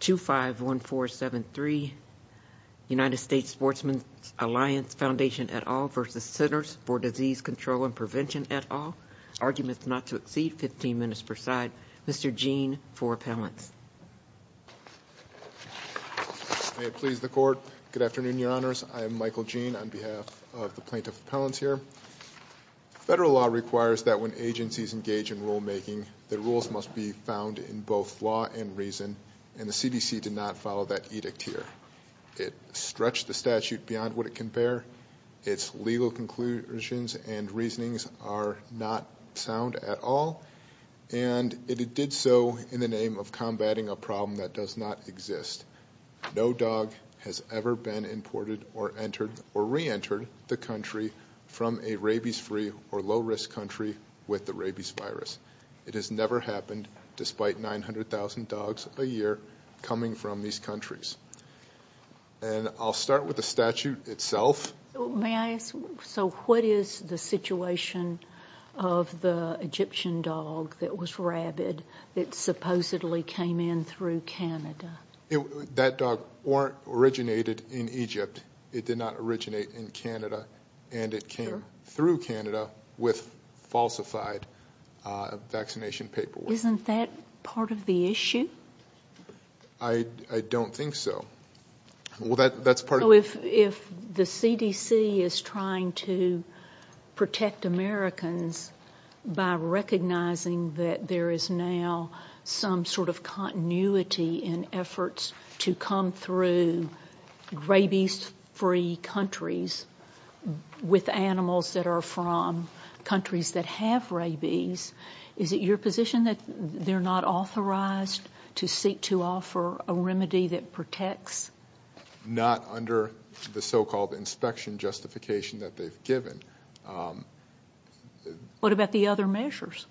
251473 United States Sportsmen Alliance Foundation et al. v. Centers for Disease Control and Prevention et al. Arguments not to exceed 15 minutes per side. Mr. Gene for appellants. May it please the court. Good afternoon, your honors. I am Michael Gene on behalf of the plaintiff's appellants here. Federal law requires that when agencies engage in rulemaking, the rules must be found in both law and reason. And the CDC did not follow that edict here. It stretched the statute beyond what it can bear. It's legal conclusions and reasonings are not sound at all. And it did so in the name of combating a problem that does not exist. No dog has ever been imported or entered or reentered the country from a rabies-free or low-risk country with the rabies virus. It has never happened despite 900,000 dogs a year coming from these countries. And I'll start with the statute itself. May I ask, so what is the situation of the Egyptian dog that was rabid that supposedly came in through Canada? That dog weren't originated in Egypt. It did not originate in Canada. And it came through Canada with falsified vaccination paperwork. Isn't that part of the issue? I don't think so. Well, that's part of the issue. to come through rabies-free countries with animals that are from countries that have rabies. Is it your position that they're not authorized to seek to offer a remedy that protects? Not under the so-called inspection justification that they've given. What about the other measures?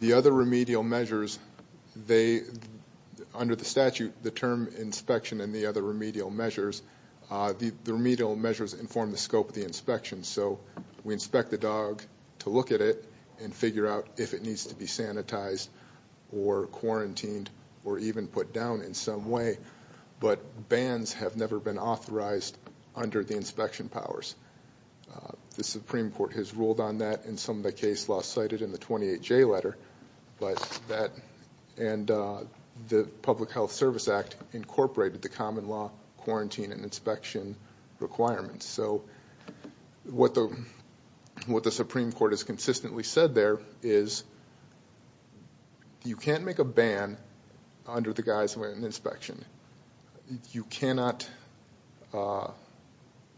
The other remedial measures, under the statute, the term inspection and the other remedial measures, the remedial measures inform the scope of the inspection. So we inspect the dog to look at it and figure out if it needs to be sanitized or quarantined or even put down in some way. But bans have never been authorized under the inspection powers. The Supreme Court has ruled on that in some of the case law cited in the 28J letter. But that and the Public Health Service Act incorporated the common law quarantine and inspection requirements. So what the Supreme Court has consistently said there is you can't make a ban under the guise of an inspection. You cannot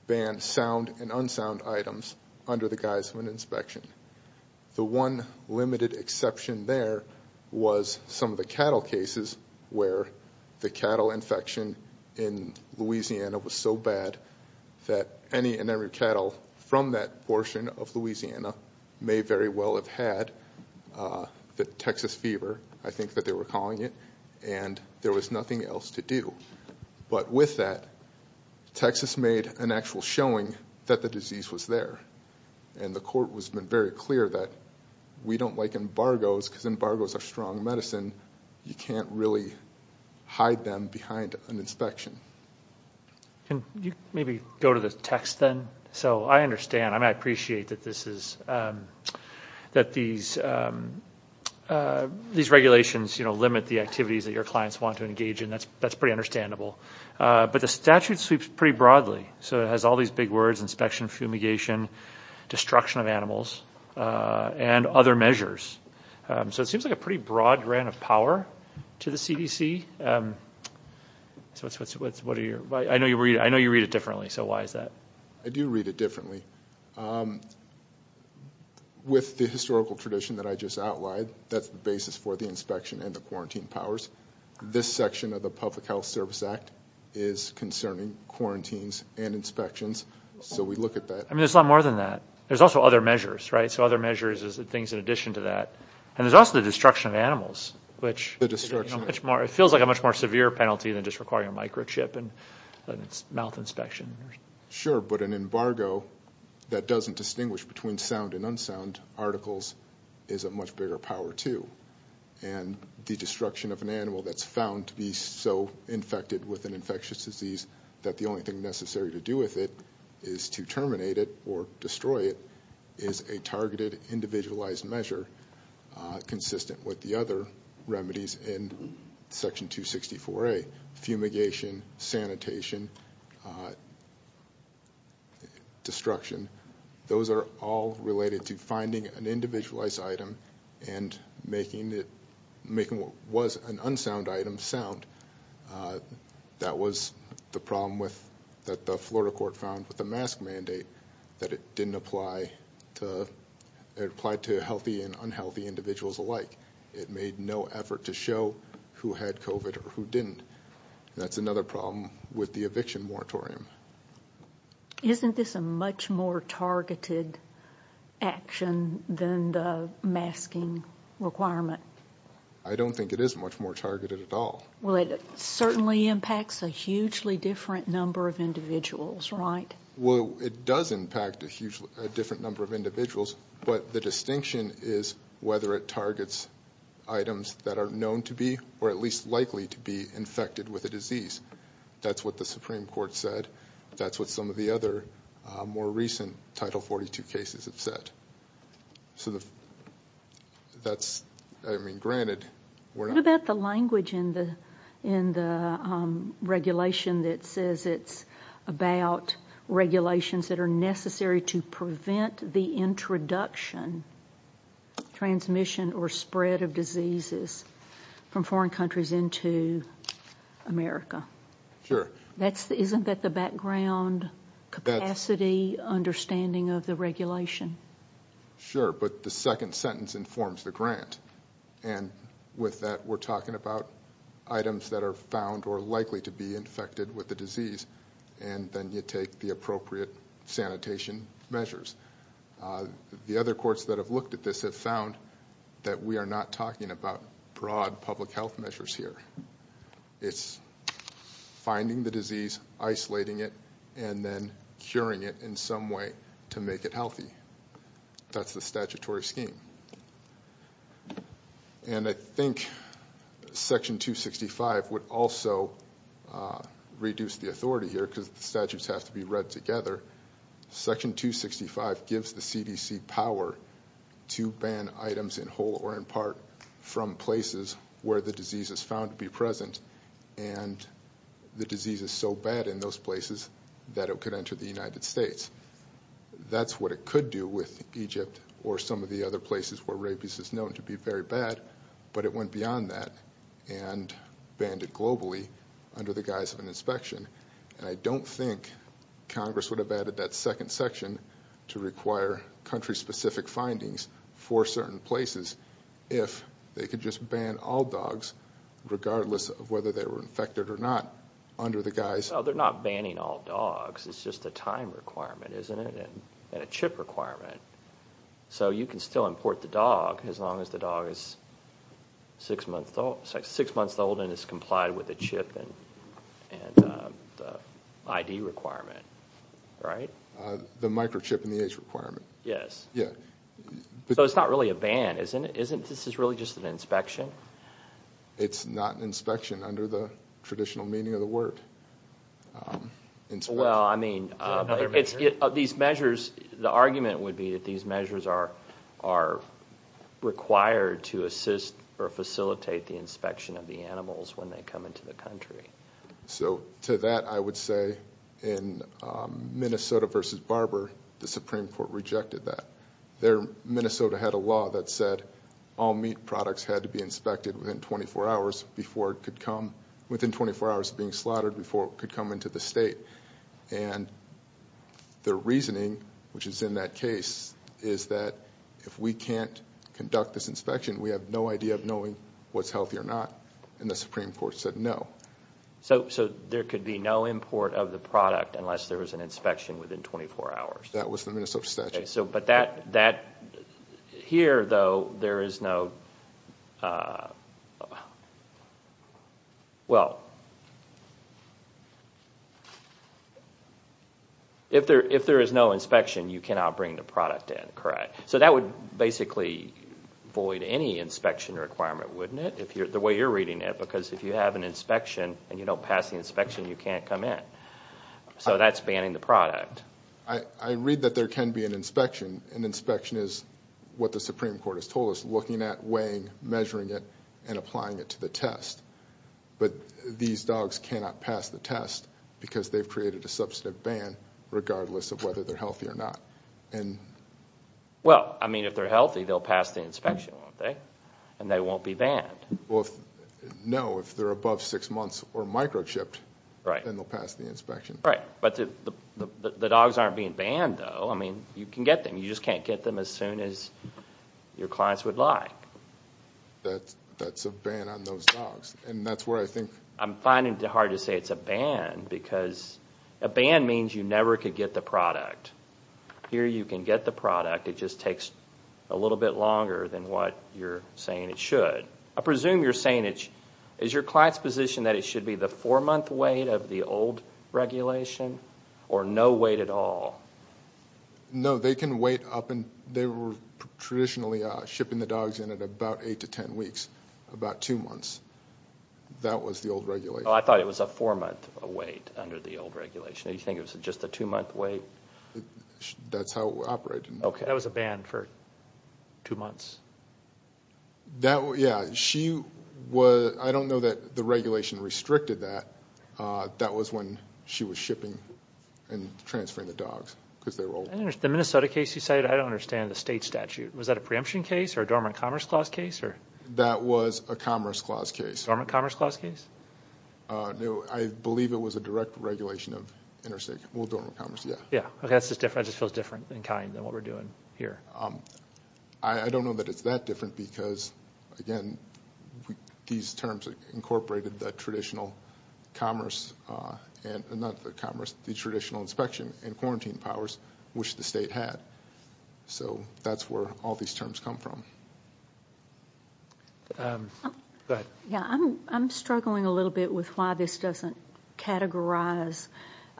ban sound and unsound items under the guise of an inspection. The one limited exception there was some of the cattle cases where the cattle infection in Louisiana was so bad that any and every cattle from that portion of Louisiana may very well have had the Texas fever, I think that they were calling it, and there was nothing else to do. But with that, Texas made an actual showing that the disease was there. And the court has been very clear that we don't like embargoes because embargoes are strong medicine. You can't really hide them behind an inspection. Can you maybe go to the text then? So I understand, I appreciate that these regulations limit the activities that your clients want to engage in. That's pretty understandable. But the statute sweeps pretty broadly. So it has all these big words, inspection, fumigation, destruction of animals, and other measures. So it seems like a pretty broad grant of power to the CDC. I know you read it differently, so why is that? I do read it differently. With the historical tradition that I just outlined, that's the basis for the inspection and the quarantine powers. This section of the Public Health Service Act is concerning quarantines and inspections. So we look at that. I mean, there's a lot more than that. There's also other measures, right? So other measures is things in addition to that. And there's also the destruction of animals, which feels like a lot more than that. It feels like a much more severe penalty than just requiring a microchip and mouth inspection. Sure, but an embargo that doesn't distinguish between sound and unsound articles is a much bigger power too. And the destruction of an animal that's found to be so infected with an infectious disease that the only thing necessary to do with it is to terminate it or destroy it is a targeted individualized measure consistent with the other remedies in Section 264A. Fumigation, sanitation, destruction. Those are all related to finding an individualized item and making what was an unsound item sound. That was the problem that the Florida court found with the mask mandate, that it didn't apply to healthy and unhealthy individuals alike. It made no effort to show who had COVID or who didn't. That's another problem with the eviction moratorium. Isn't this a much more targeted action than the masking requirement? I don't think it is much more targeted at all. Well, it certainly impacts a hugely different number of individuals, right? Well, it does impact a different number of individuals, but the distinction is whether it targets items that are known to be or at least likely to be infected with a disease. That's what the Supreme Court said. That's what some of the other more recent Title 42 cases have said. So that's, I mean, granted. What about the language in the regulation that says it's about regulations that are necessary to prevent the introduction, transmission, or spread of diseases from foreign countries into America? Sure. Isn't that the background capacity understanding of the regulation? Sure, but the second sentence informs the grant. And with that, we're talking about items that are found or likely to be infected with the disease, and then you take the appropriate sanitation measures. The other courts that have looked at this have found that we are not talking about broad public health measures here. It's finding the disease, isolating it, and then curing it in some way to make it healthy. That's the statutory scheme. And I think Section 265 would also reduce the authority here because the statutes have to be read together. Section 265 gives the CDC power to ban items in whole or in part from places where the disease is found to be present and the disease is so bad in those places that it could enter the United States. That's what it could do with Egypt or some of the other places where rabies is known to be very bad, but it went beyond that and banned it globally under the guise of an inspection. And I don't think Congress would have added that second section to require country-specific findings for certain places if they could just ban all dogs, regardless of whether they were infected or not, under the guise. They're not banning all dogs. It's just a time requirement, isn't it, and a chip requirement. So you can still import the dog as long as the dog is six months old and has complied with the chip and the ID requirement, right? The microchip and the age requirement. Yes. So it's not really a ban, isn't it? This is really just an inspection? It's not an inspection under the traditional meaning of the word. Well, I mean, these measures, the argument would be that these measures are required to assist or facilitate the inspection of the animals when they come into the country. So to that, I would say in Minnesota v. Barber, the Supreme Court rejected that. Minnesota had a law that said all meat products had to be inspected within 24 hours of being slaughtered before it could come into the state. And their reasoning, which is in that case, is that if we can't conduct this inspection, we have no idea of knowing what's healthy or not, and the Supreme Court said no. So there could be no import of the product unless there was an inspection within 24 hours? That was the Minnesota statute. Okay. But here, though, there is no, well, if there is no inspection, you cannot bring the product in, correct? So that would basically void any inspection requirement, wouldn't it, the way you're reading it? Because if you have an inspection and you don't pass the inspection, you can't come in. So that's banning the product. I read that there can be an inspection. An inspection is what the Supreme Court has told us, looking at, weighing, measuring it, and applying it to the test. But these dogs cannot pass the test because they've created a substantive ban regardless of whether they're healthy or not. Well, I mean, if they're healthy, they'll pass the inspection, won't they? And they won't be banned. No, if they're above six months or microchipped, then they'll pass the inspection. Right. But the dogs aren't being banned, though. I mean, you can get them. You just can't get them as soon as your clients would like. That's a ban on those dogs. And that's where I think. I'm finding it hard to say it's a ban because a ban means you never could get the product. Here you can get the product. It just takes a little bit longer than what you're saying it should. I presume you're saying it's your client's position that it should be the four-month wait of the old regulation or no wait at all? No, they can wait up until they were traditionally shipping the dogs in at about eight to ten weeks, about two months. That was the old regulation. Oh, I thought it was a four-month wait under the old regulation. Did you think it was just a two-month wait? That's how it operated. Okay. That was a ban for two months? Yeah. I don't know that the regulation restricted that. That was when she was shipping and transferring the dogs because they were old. The Minnesota case you cited, I don't understand the state statute. Was that a preemption case or a dormant commerce clause case? That was a commerce clause case. Dormant commerce clause case? No, I believe it was a direct regulation of interstate. Well, dormant commerce, yeah. Yeah. That just feels different in kind than what we're doing here. I don't know that it's that different because, again, these terms incorporated the traditional inspection and quarantine powers which the state had. So that's where all these terms come from. I'm struggling a little bit with why this doesn't categorize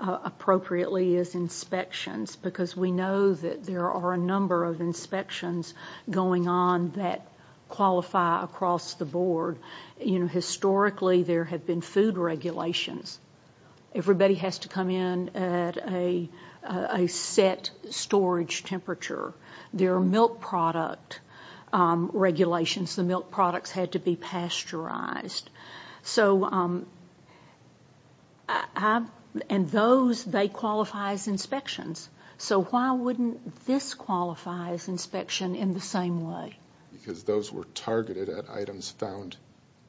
appropriately as inspections because we know that there are a number of inspections going on that qualify across the board. Historically, there have been food regulations. Everybody has to come in at a set storage temperature. There are milk product regulations. The milk products had to be pasteurized. And those, they qualify as inspections. So why wouldn't this qualify as inspection in the same way? Because those were targeted at items found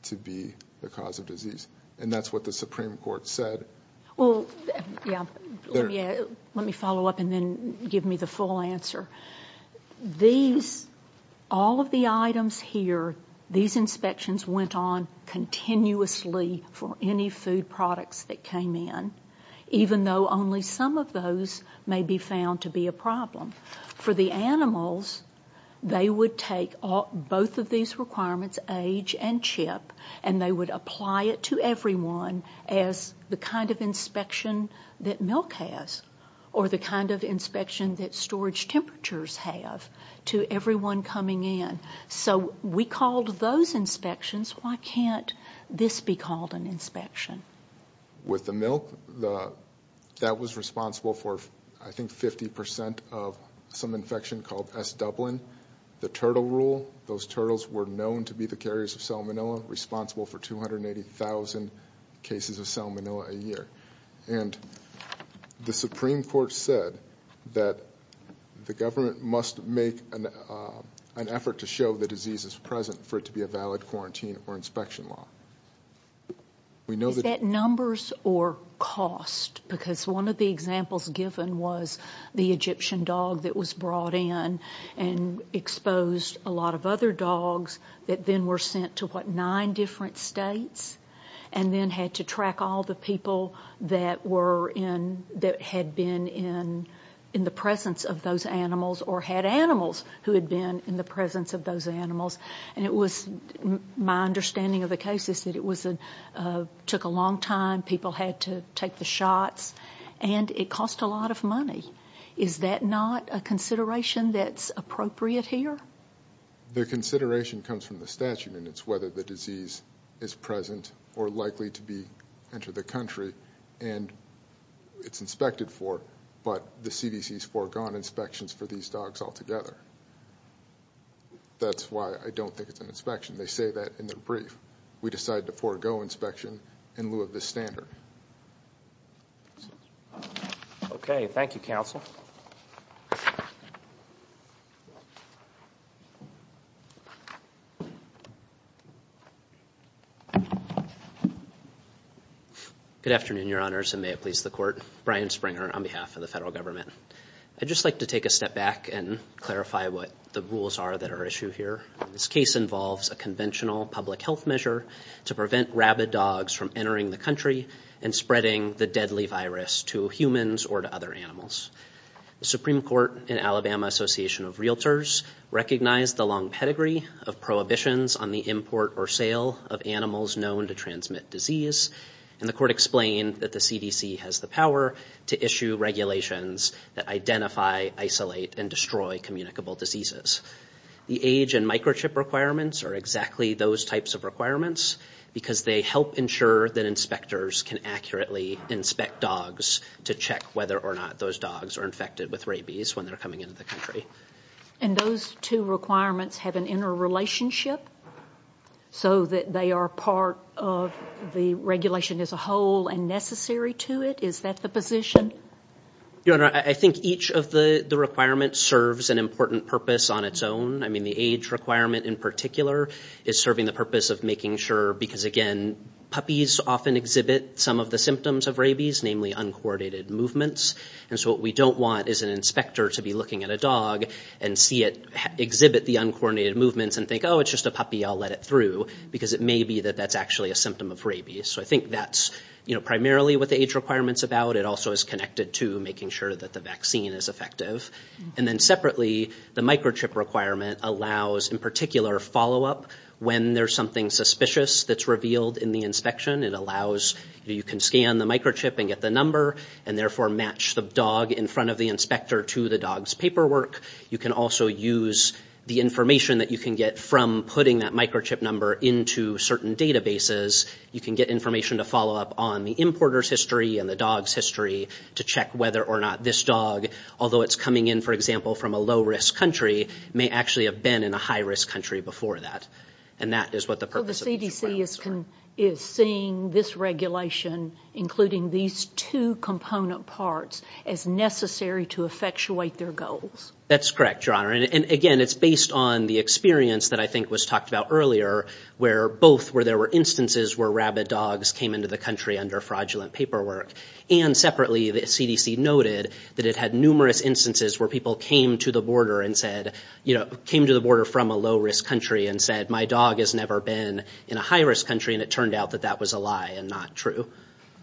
to be the cause of disease, and that's what the Supreme Court said. Well, yeah, let me follow up and then give me the full answer. These, all of the items here, these inspections went on continuously for any food products that came in, even though only some of those may be found to be a problem. For the animals, they would take both of these requirements, age and chip, and they would apply it to everyone as the kind of inspection that milk has or the kind of inspection that storage temperatures have to everyone coming in. So we called those inspections. Why can't this be called an inspection? With the milk, that was responsible for, I think, 50% of some infection called S. Dublin. The turtle rule, those turtles were known to be the carriers of salmonella, responsible for 280,000 cases of salmonella a year. And the Supreme Court said that the government must make an effort to show the disease is present for it to be a valid quarantine or inspection law. Is that numbers or cost? Because one of the examples given was the Egyptian dog that was brought in and exposed a lot of other dogs that then were sent to, what, nine different states and then had to track all the people that had been in the presence of those animals or had animals who had been in the presence of those animals. And it was my understanding of the cases that it took a long time. People had to take the shots. And it cost a lot of money. Is that not a consideration that's appropriate here? The consideration comes from the statute, and it's whether the disease is present or likely to enter the country. And it's inspected for, but the CDC has foregone inspections for these dogs altogether. That's why I don't think it's an inspection. They say that in their brief. We decided to forego inspection in lieu of this standard. Okay. Thank you, Counsel. Good afternoon, Your Honors, and may it please the Court. Brian Springer on behalf of the federal government. I'd just like to take a step back and clarify what the rules are that are issued here. This case involves a conventional public health measure to prevent rabid dogs from entering the country and spreading the deadly virus to humans or to other animals. The Supreme Court and Alabama Association of Realtors recognized the long pedigree of prohibitions on the import or sale of animals known to transmit disease. And the Court explained that the CDC has the power to issue regulations that identify, isolate, and destroy communicable diseases. The age and microchip requirements are exactly those types of requirements because they help ensure that inspectors can accurately inspect dogs to check whether or not those dogs are infected with rabies when they're coming into the country. And those two requirements have an interrelationship so that they are part of the regulation as a whole and necessary to it? Is that the position? Your Honor, I think each of the requirements serves an important purpose on its own. I mean, the age requirement in particular is serving the purpose of making sure because, again, puppies often exhibit some of the symptoms of rabies, namely uncoordinated movements. And so what we don't want is an inspector to be looking at a dog and see it exhibit the uncoordinated movements and think, oh, it's just a puppy, I'll let it through because it may be that that's actually a symptom of rabies. So I think that's primarily what the age requirement's about. But it also is connected to making sure that the vaccine is effective. And then separately, the microchip requirement allows, in particular, follow-up when there's something suspicious that's revealed in the inspection. It allows you can scan the microchip and get the number and therefore match the dog in front of the inspector to the dog's paperwork. You can also use the information that you can get from putting that microchip number into certain databases. You can get information to follow-up on the importer's history and the dog's history to check whether or not this dog, although it's coming in, for example, from a low-risk country, may actually have been in a high-risk country before that. And that is what the purpose of these requirements are. Well, the CDC is seeing this regulation, including these two component parts, as necessary to effectuate their goals. That's correct, Your Honor. And, again, it's based on the experience that I think was talked about earlier, where both where there were instances where rabid dogs came into the country under fraudulent paperwork. And, separately, the CDC noted that it had numerous instances where people came to the border from a low-risk country and said, my dog has never been in a high-risk country, and it turned out that that was a lie and not true.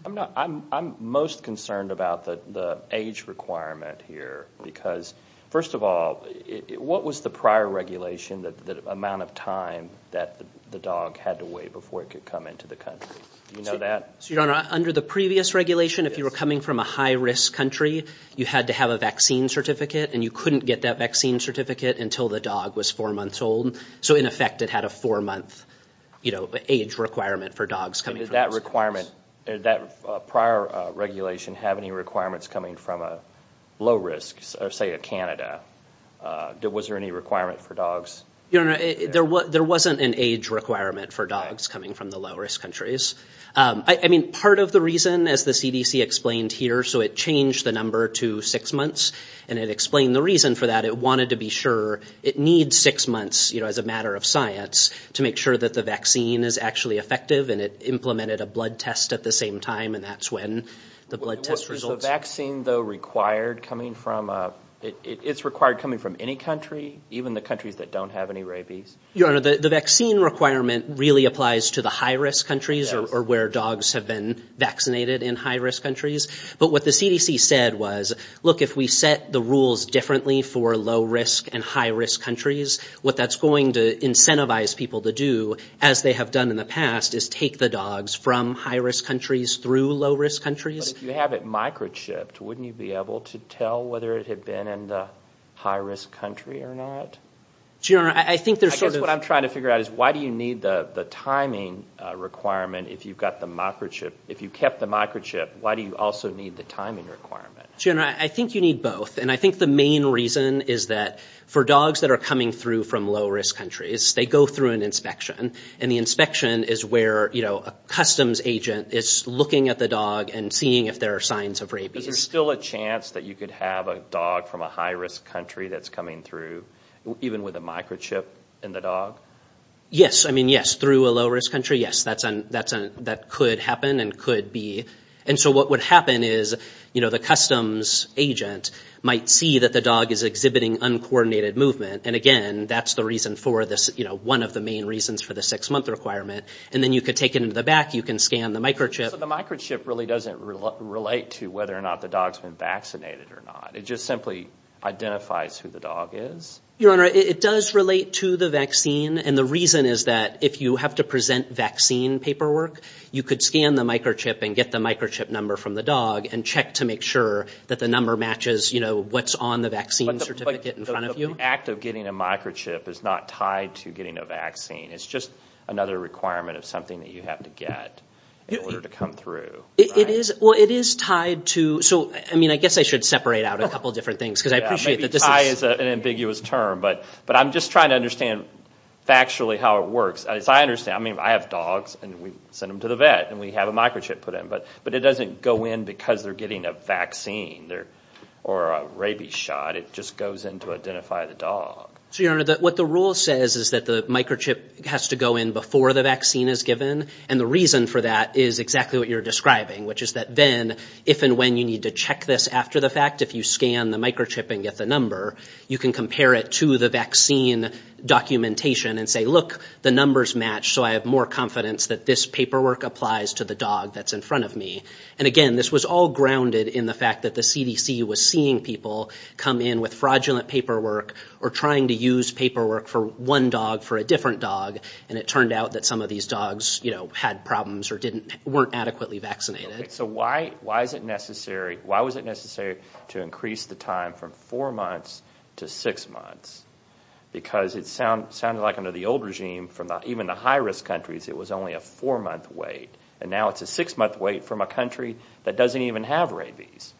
I'm most concerned about the age requirement here, because, first of all, what was the prior regulation, the amount of time that the dog had to wait before it could come into the country? Do you know that? Your Honor, under the previous regulation, if you were coming from a high-risk country, you had to have a vaccine certificate, and you couldn't get that vaccine certificate until the dog was four months old. So, in effect, it had a four-month age requirement for dogs coming from those countries. Did that prior regulation have any requirements coming from a low-risk, say, Canada? Was there any requirement for dogs? Your Honor, there wasn't an age requirement for dogs coming from the low-risk countries. I mean, part of the reason, as the CDC explained here, so it changed the number to six months, and it explained the reason for that, it wanted to be sure it needs six months, you know, as a matter of science, to make sure that the vaccine is actually effective, and it implemented a blood test at the same time, and that's when the blood test results. Is the vaccine, though, required coming from any country, even the countries that don't have any rabies? Your Honor, the vaccine requirement really applies to the high-risk countries or where dogs have been vaccinated in high-risk countries. But what the CDC said was, look, if we set the rules differently for low-risk and high-risk countries, what that's going to incentivize people to do, as they have done in the past, is take the dogs from high-risk countries through low-risk countries. But if you have it microchipped, wouldn't you be able to tell whether it had been in the high-risk country or not? Your Honor, I think there's sort of— I guess what I'm trying to figure out is why do you need the timing requirement if you've got the microchip—if you kept the microchip, why do you also need the timing requirement? Your Honor, I think you need both, and I think the main reason is that for dogs that are coming through from low-risk countries, they go through an inspection, and the inspection is where a customs agent is looking at the dog and seeing if there are signs of rabies. Is there still a chance that you could have a dog from a high-risk country that's coming through, even with a microchip in the dog? Yes. I mean, yes, through a low-risk country, yes, that could happen and could be— and so what would happen is the customs agent might see that the dog is exhibiting uncoordinated movement, and again, that's the reason for this—one of the main reasons for the six-month requirement, and then you could take it into the back, you can scan the microchip— So the microchip really doesn't relate to whether or not the dog's been vaccinated or not. It just simply identifies who the dog is? Your Honor, it does relate to the vaccine, and the reason is that if you have to present vaccine paperwork, you could scan the microchip and get the microchip number from the dog and check to make sure that the number matches what's on the vaccine certificate in front of you. So the act of getting a microchip is not tied to getting a vaccine. It's just another requirement of something that you have to get in order to come through, right? It is—well, it is tied to—so, I mean, I guess I should separate out a couple different things, because I appreciate that this is— Yeah, maybe tie is an ambiguous term, but I'm just trying to understand factually how it works. As I understand, I mean, I have dogs, and we send them to the vet, and we have a microchip put in, but it doesn't go in because they're getting a vaccine or a rabies shot. It just goes in to identify the dog. So, Your Honor, what the rule says is that the microchip has to go in before the vaccine is given, and the reason for that is exactly what you're describing, which is that then if and when you need to check this after the fact, if you scan the microchip and get the number, you can compare it to the vaccine documentation and say, look, the numbers match, so I have more confidence that this paperwork applies to the dog that's in front of me. And again, this was all grounded in the fact that the CDC was seeing people come in with fraudulent paperwork or trying to use paperwork for one dog for a different dog, and it turned out that some of these dogs, you know, had problems or weren't adequately vaccinated. So why is it necessary—why was it necessary to increase the time from four months to six months? Because it sounded like under the old regime from even the high-risk countries, it was only a four-month wait, and now it's a six-month wait from a country that doesn't even have rabies.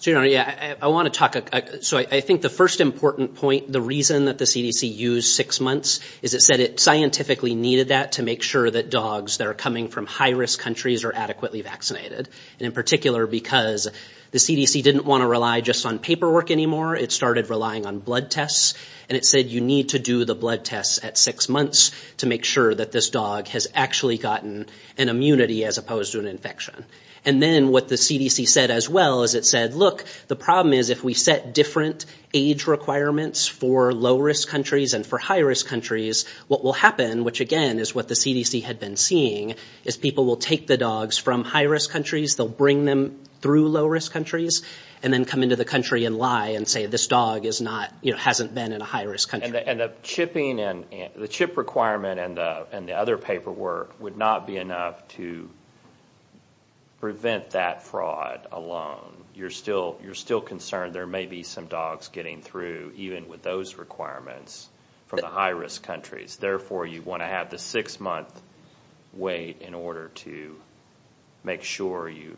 So, Your Honor, I want to talk—so I think the first important point, the reason that the CDC used six months, is it said it scientifically needed that to make sure that dogs that are coming from high-risk countries are adequately vaccinated, and in particular because the CDC didn't want to rely just on paperwork anymore. It started relying on blood tests, and it said you need to do the blood tests at six months to make sure that this dog has actually gotten an immunity as opposed to an infection. And then what the CDC said as well is it said, look, the problem is if we set different age requirements for low-risk countries and for high-risk countries, what will happen, which again is what the CDC had been seeing, is people will take the dogs from high-risk countries, they'll bring them through low-risk countries, and then come into the country and lie and say this dog is not, you know, hasn't been in a high-risk country. And the chipping and—the chip requirement and the other paperwork would not be enough to prevent that fraud alone. You're still concerned there may be some dogs getting through even with those requirements from the high-risk countries. Therefore, you want to have the six-month wait in order to make sure you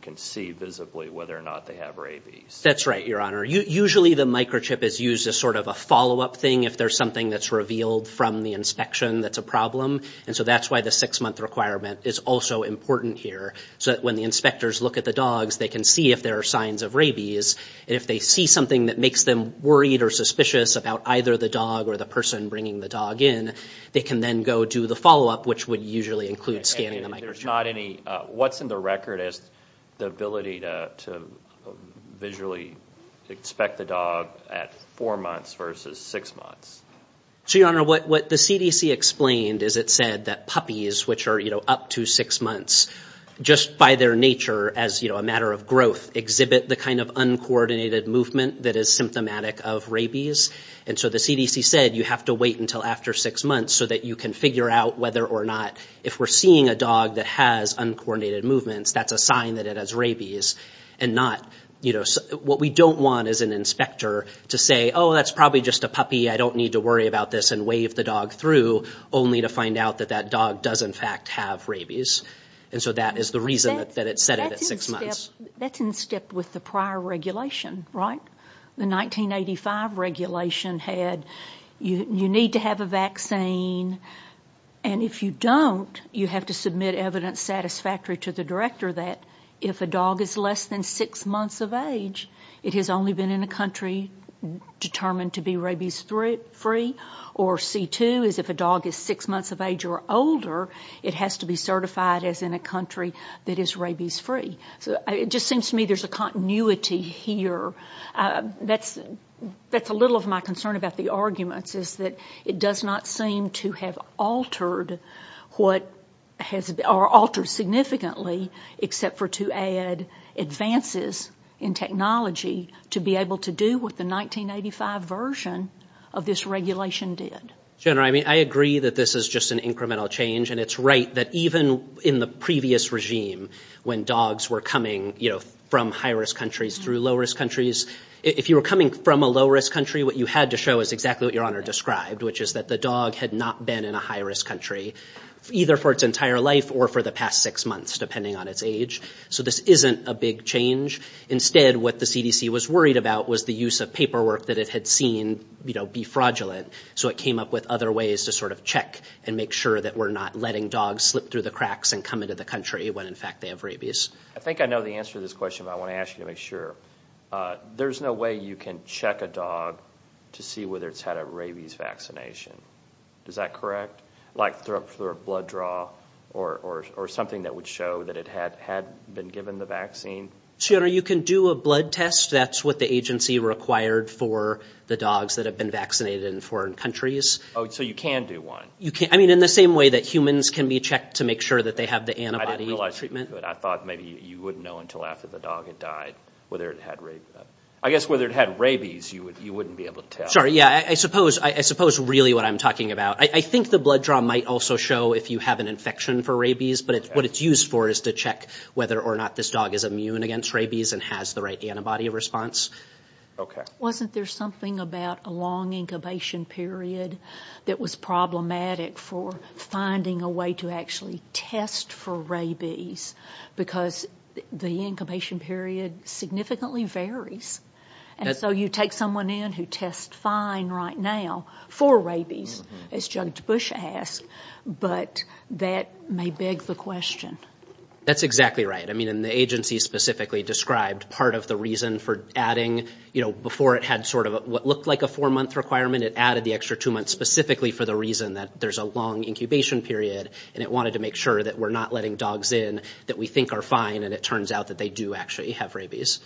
can see visibly whether or not they have rabies. That's right, Your Honor. Usually the microchip is used as sort of a follow-up thing if there's something that's revealed from the inspection that's a problem. And so that's why the six-month requirement is also important here so that when the inspectors look at the dogs, they can see if there are signs of rabies. And if they see something that makes them worried or suspicious about either the dog or the person bringing the dog in, they can then go do the follow-up, which would usually include scanning the microchip. There's not any—what's in the record is the ability to visually inspect the dog at four months versus six months. So, Your Honor, what the CDC explained is it said that puppies, which are, you know, up to six months, just by their nature as, you know, a matter of growth, exhibit the kind of uncoordinated movement that is symptomatic of rabies. And so the CDC said you have to wait until after six months so that you can figure out whether or not, if we're seeing a dog that has uncoordinated movements, that's a sign that it has rabies. And not, you know—what we don't want is an inspector to say, oh, that's probably just a puppy, I don't need to worry about this, and wave the dog through, only to find out that that dog does, in fact, have rabies. And so that is the reason that it said it at six months. That's in step with the prior regulation, right? The 1985 regulation had you need to have a vaccine, and if you don't, you have to submit evidence satisfactory to the director that if a dog is less than six months of age, it has only been in a country determined to be rabies-free. Or C2 is if a dog is six months of age or older, it has to be certified as in a country that is rabies-free. So it just seems to me there's a continuity here. That's a little of my concern about the arguments, is that it does not seem to have altered significantly, except for to add advances in technology to be able to do what the 1985 version of this regulation did. General, I mean, I agree that this is just an incremental change, and it's right that even in the previous regime, when dogs were coming from high-risk countries through low-risk countries, if you were coming from a low-risk country, what you had to show is exactly what Your Honor described, which is that the dog had not been in a high-risk country, either for its entire life or for the past six months, depending on its age. So this isn't a big change. Instead, what the CDC was worried about was the use of paperwork that it had seen be fraudulent, so it came up with other ways to sort of check and make sure that we're not letting dogs slip through the cracks and come into the country when, in fact, they have rabies. I think I know the answer to this question, but I want to ask you to make sure. There's no way you can check a dog to see whether it's had a rabies vaccination. Is that correct? Like through a blood draw or something that would show that it had been given the vaccine? Your Honor, you can do a blood test. That's what the agency required for the dogs that have been vaccinated in foreign countries. Oh, so you can do one? I mean, in the same way that humans can be checked to make sure that they have the antibody treatment. I didn't realize you could. I thought maybe you wouldn't know until after the dog had died whether it had rabies. I guess whether it had rabies, you wouldn't be able to tell. Sorry, yeah, I suppose really what I'm talking about. I think the blood draw might also show if you have an infection for rabies, but what it's used for is to check whether or not this dog is immune against rabies and has the right antibody response. Wasn't there something about a long incubation period that was problematic for finding a way to actually test for rabies? Because the incubation period significantly varies, and so you take someone in who tests fine right now for rabies, as Judge Bush asked, but that may beg the question. That's exactly right. I mean, and the agency specifically described part of the reason for adding, you know, before it had sort of what looked like a four-month requirement, it added the extra two months specifically for the reason that there's a long incubation period and it wanted to make sure that we're not letting dogs in that we think are fine and it turns out that they do actually have rabies.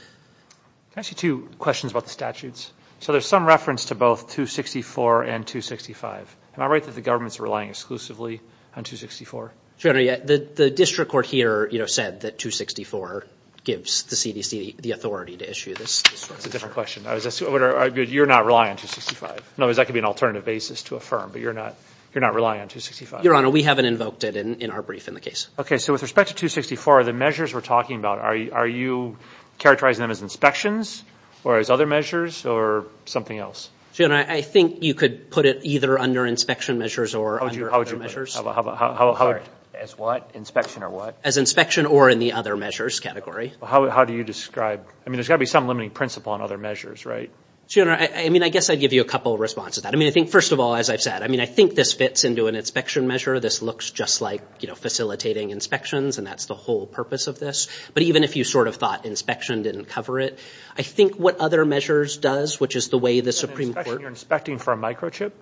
Can I ask you two questions about the statutes? So there's some reference to both 264 and 265. Am I right that the government's relying exclusively on 264? Your Honor, the district court here said that 264 gives the CDC the authority to issue this. That's a different question. You're not relying on 265? In other words, that could be an alternative basis to affirm, but you're not relying on 265? Your Honor, we haven't invoked it in our brief in the case. Okay. So with respect to 264, the measures we're talking about, are you characterizing them as inspections or as other measures or something else? Your Honor, I think you could put it either under inspection measures or under other measures. How would you put it? As what? Inspection or what? As inspection or in the other measures category. How do you describe? I mean, there's got to be some limiting principle on other measures, right? Your Honor, I mean, I guess I'd give you a couple of responses to that. I mean, I think first of all, as I've said, I mean, I think this fits into an inspection measure. This looks just like, you know, facilitating inspections and that's the whole purpose of this. But even if you sort of thought inspection didn't cover it, I think what other measures does, which is the way the Supreme Court. You're inspecting for a microchip,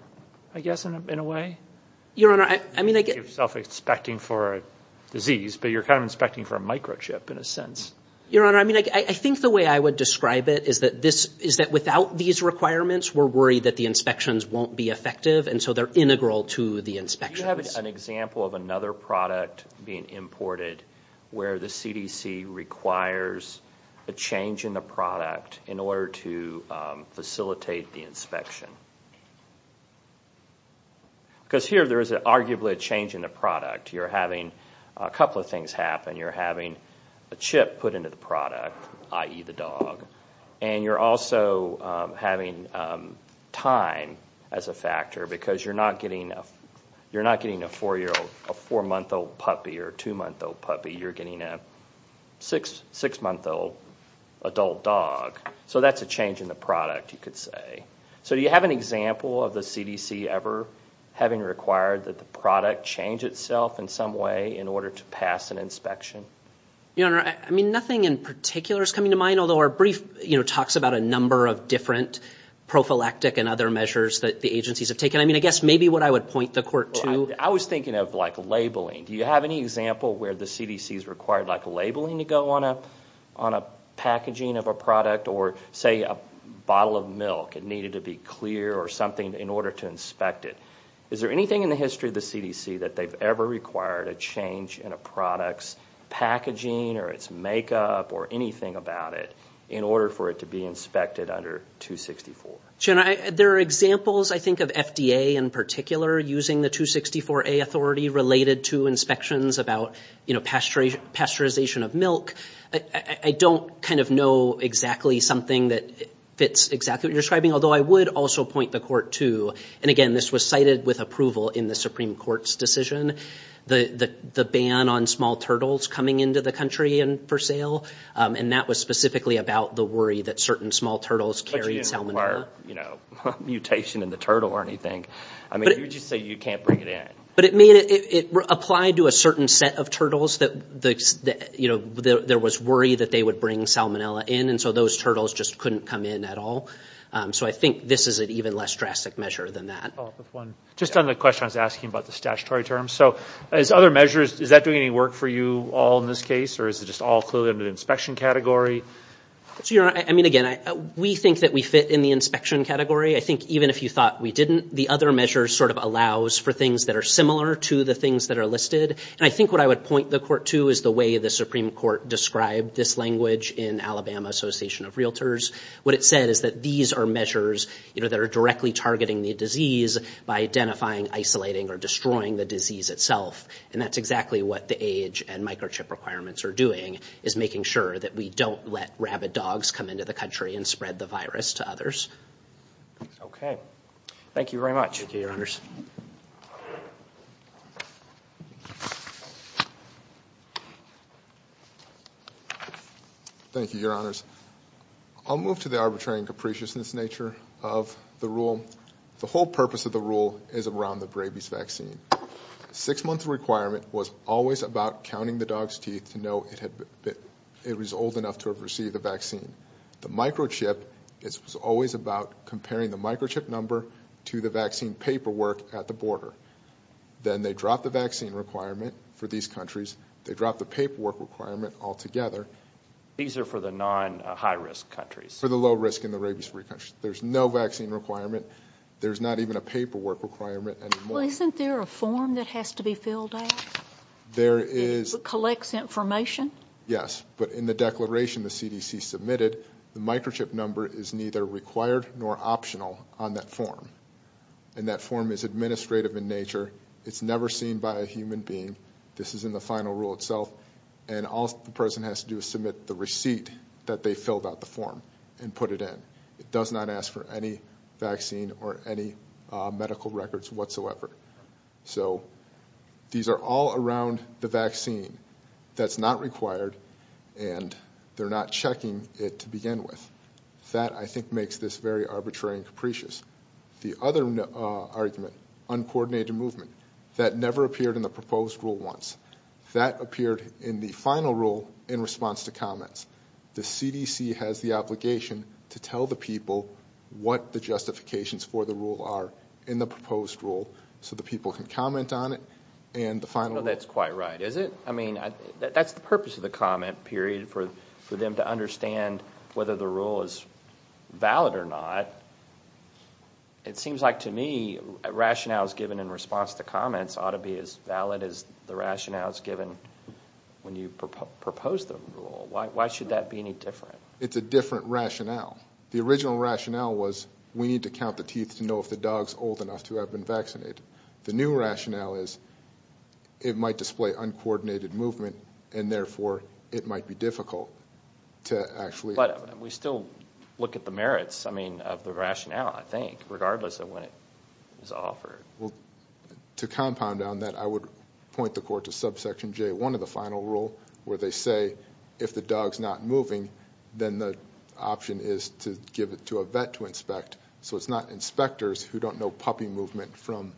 I guess, in a way? Your Honor, I mean, I guess. You're self-inspecting for a disease, but you're kind of inspecting for a microchip in a sense. Your Honor, I mean, I think the way I would describe it is that without these requirements, we're worried that the inspections won't be effective, and so they're integral to the inspections. Do you have an example of another product being imported where the CDC requires a change in the product in order to facilitate the inspection? Because here there is arguably a change in the product. You're having a couple of things happen. You're having a chip put into the product, i.e. the dog, and you're also having time as a factor because you're not getting a four-month-old puppy or two-month-old puppy. You're getting a six-month-old adult dog. So that's a change in the product, you could say. So do you have an example of the CDC ever having required that the product change itself in some way in order to pass an inspection? Your Honor, I mean, nothing in particular is coming to mind, although our brief talks about a number of different prophylactic and other measures that the agencies have taken. I mean, I guess maybe what I would point the Court to— I was thinking of, like, labeling. Do you have any example where the CDC has required, like, labeling to go on a packaging of a product or, say, a bottle of milk needed to be clear or something in order to inspect it? Is there anything in the history of the CDC that they've ever required a change in a product's packaging or its makeup or anything about it in order for it to be inspected under 264? Your Honor, there are examples, I think, of FDA in particular using the 264A authority related to inspections about, you know, pasteurization of milk. I don't kind of know exactly something that fits exactly what you're describing, although I would also point the Court to— and again, this was cited with approval in the Supreme Court's decision— the ban on small turtles coming into the country for sale, and that was specifically about the worry that certain small turtles carried salmonella. But you didn't require, you know, mutation in the turtle or anything. I mean, you just say you can't bring it in. But it made it—it applied to a certain set of turtles that, you know, there was worry that they would bring salmonella in, and so those turtles just couldn't come in at all. So I think this is an even less drastic measure than that. Just on the question I was asking about the statutory terms. So as other measures, is that doing any work for you all in this case, or is it just all clearly under the inspection category? Your Honor, I mean, again, we think that we fit in the inspection category. I think even if you thought we didn't, the other measure sort of allows for things that are similar to the things that are listed. And I think what I would point the Court to is the way the Supreme Court described this language in Alabama Association of Realtors. What it said is that these are measures, you know, that are directly targeting the disease by identifying, isolating, or destroying the disease itself. And that's exactly what the age and microchip requirements are doing, is making sure that we don't let rabid dogs come into the country and spread the virus to others. Okay. Thank you very much. Thank you, Your Honors. Thank you, Your Honors. I'll move to the arbitrary and capriciousness nature of the rule. The whole purpose of the rule is around the rabies vaccine. A six-month requirement was always about counting the dog's teeth to know it was old enough to have received the vaccine. The microchip, it's always about comparing the microchip number to the vaccine paperwork at the border. Then they drop the vaccine requirement for these countries. They drop the paperwork requirement altogether. These are for the non-high-risk countries. For the low-risk and the rabies-free countries. There's no vaccine requirement. There's not even a paperwork requirement anymore. Well, isn't there a form that has to be filled out? There is. It collects information? Yes. But in the declaration the CDC submitted, the microchip number is neither required nor optional on that form. And that form is administrative in nature. It's never seen by a human being. This is in the final rule itself. And all the person has to do is submit the receipt that they filled out the form and put it in. It does not ask for any vaccine or any medical records whatsoever. So these are all around the vaccine. That's not required. And they're not checking it to begin with. That, I think, makes this very arbitrary and capricious. The other argument, uncoordinated movement, that never appeared in the proposed rule once. That appeared in the final rule in response to comments. The CDC has the obligation to tell the people what the justifications for the rule are in the proposed rule so the people can comment on it and the final rule. No, that's quite right, is it? I mean, that's the purpose of the comment, period, for them to understand whether the rule is valid or not. It seems like, to me, rationales given in response to comments ought to be as valid as the rationales given when you propose the rule. Why should that be any different? It's a different rationale. The original rationale was we need to count the teeth to know if the dog's old enough to have been vaccinated. The new rationale is it might display uncoordinated movement and, therefore, it might be difficult to actually... But we still look at the merits, I mean, of the rationale, I think, regardless of when it was offered. To compound on that, I would point the court to subsection J1 of the final rule where they say if the dog's not moving, then the option is to give it to a vet to inspect. So it's not inspectors who don't know puppy movement from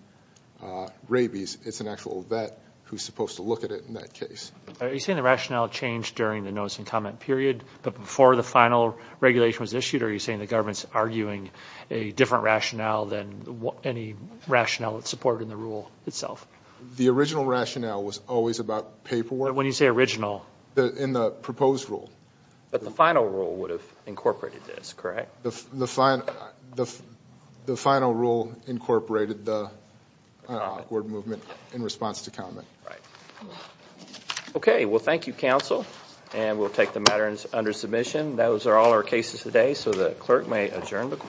rabies. It's an actual vet who's supposed to look at it in that case. Are you saying the rationale changed during the notice and comment period, but before the final regulation was issued? Or are you saying the government's arguing a different rationale than any rationale that's supported in the rule itself? The original rationale was always about paperwork. When you say original... In the proposed rule. But the final rule would have incorporated this, correct? The final rule incorporated the uncoordinated movement in response to comment. Right. Okay, well, thank you, counsel. And we'll take the matter under submission. Those are all our cases today, so the clerk may adjourn.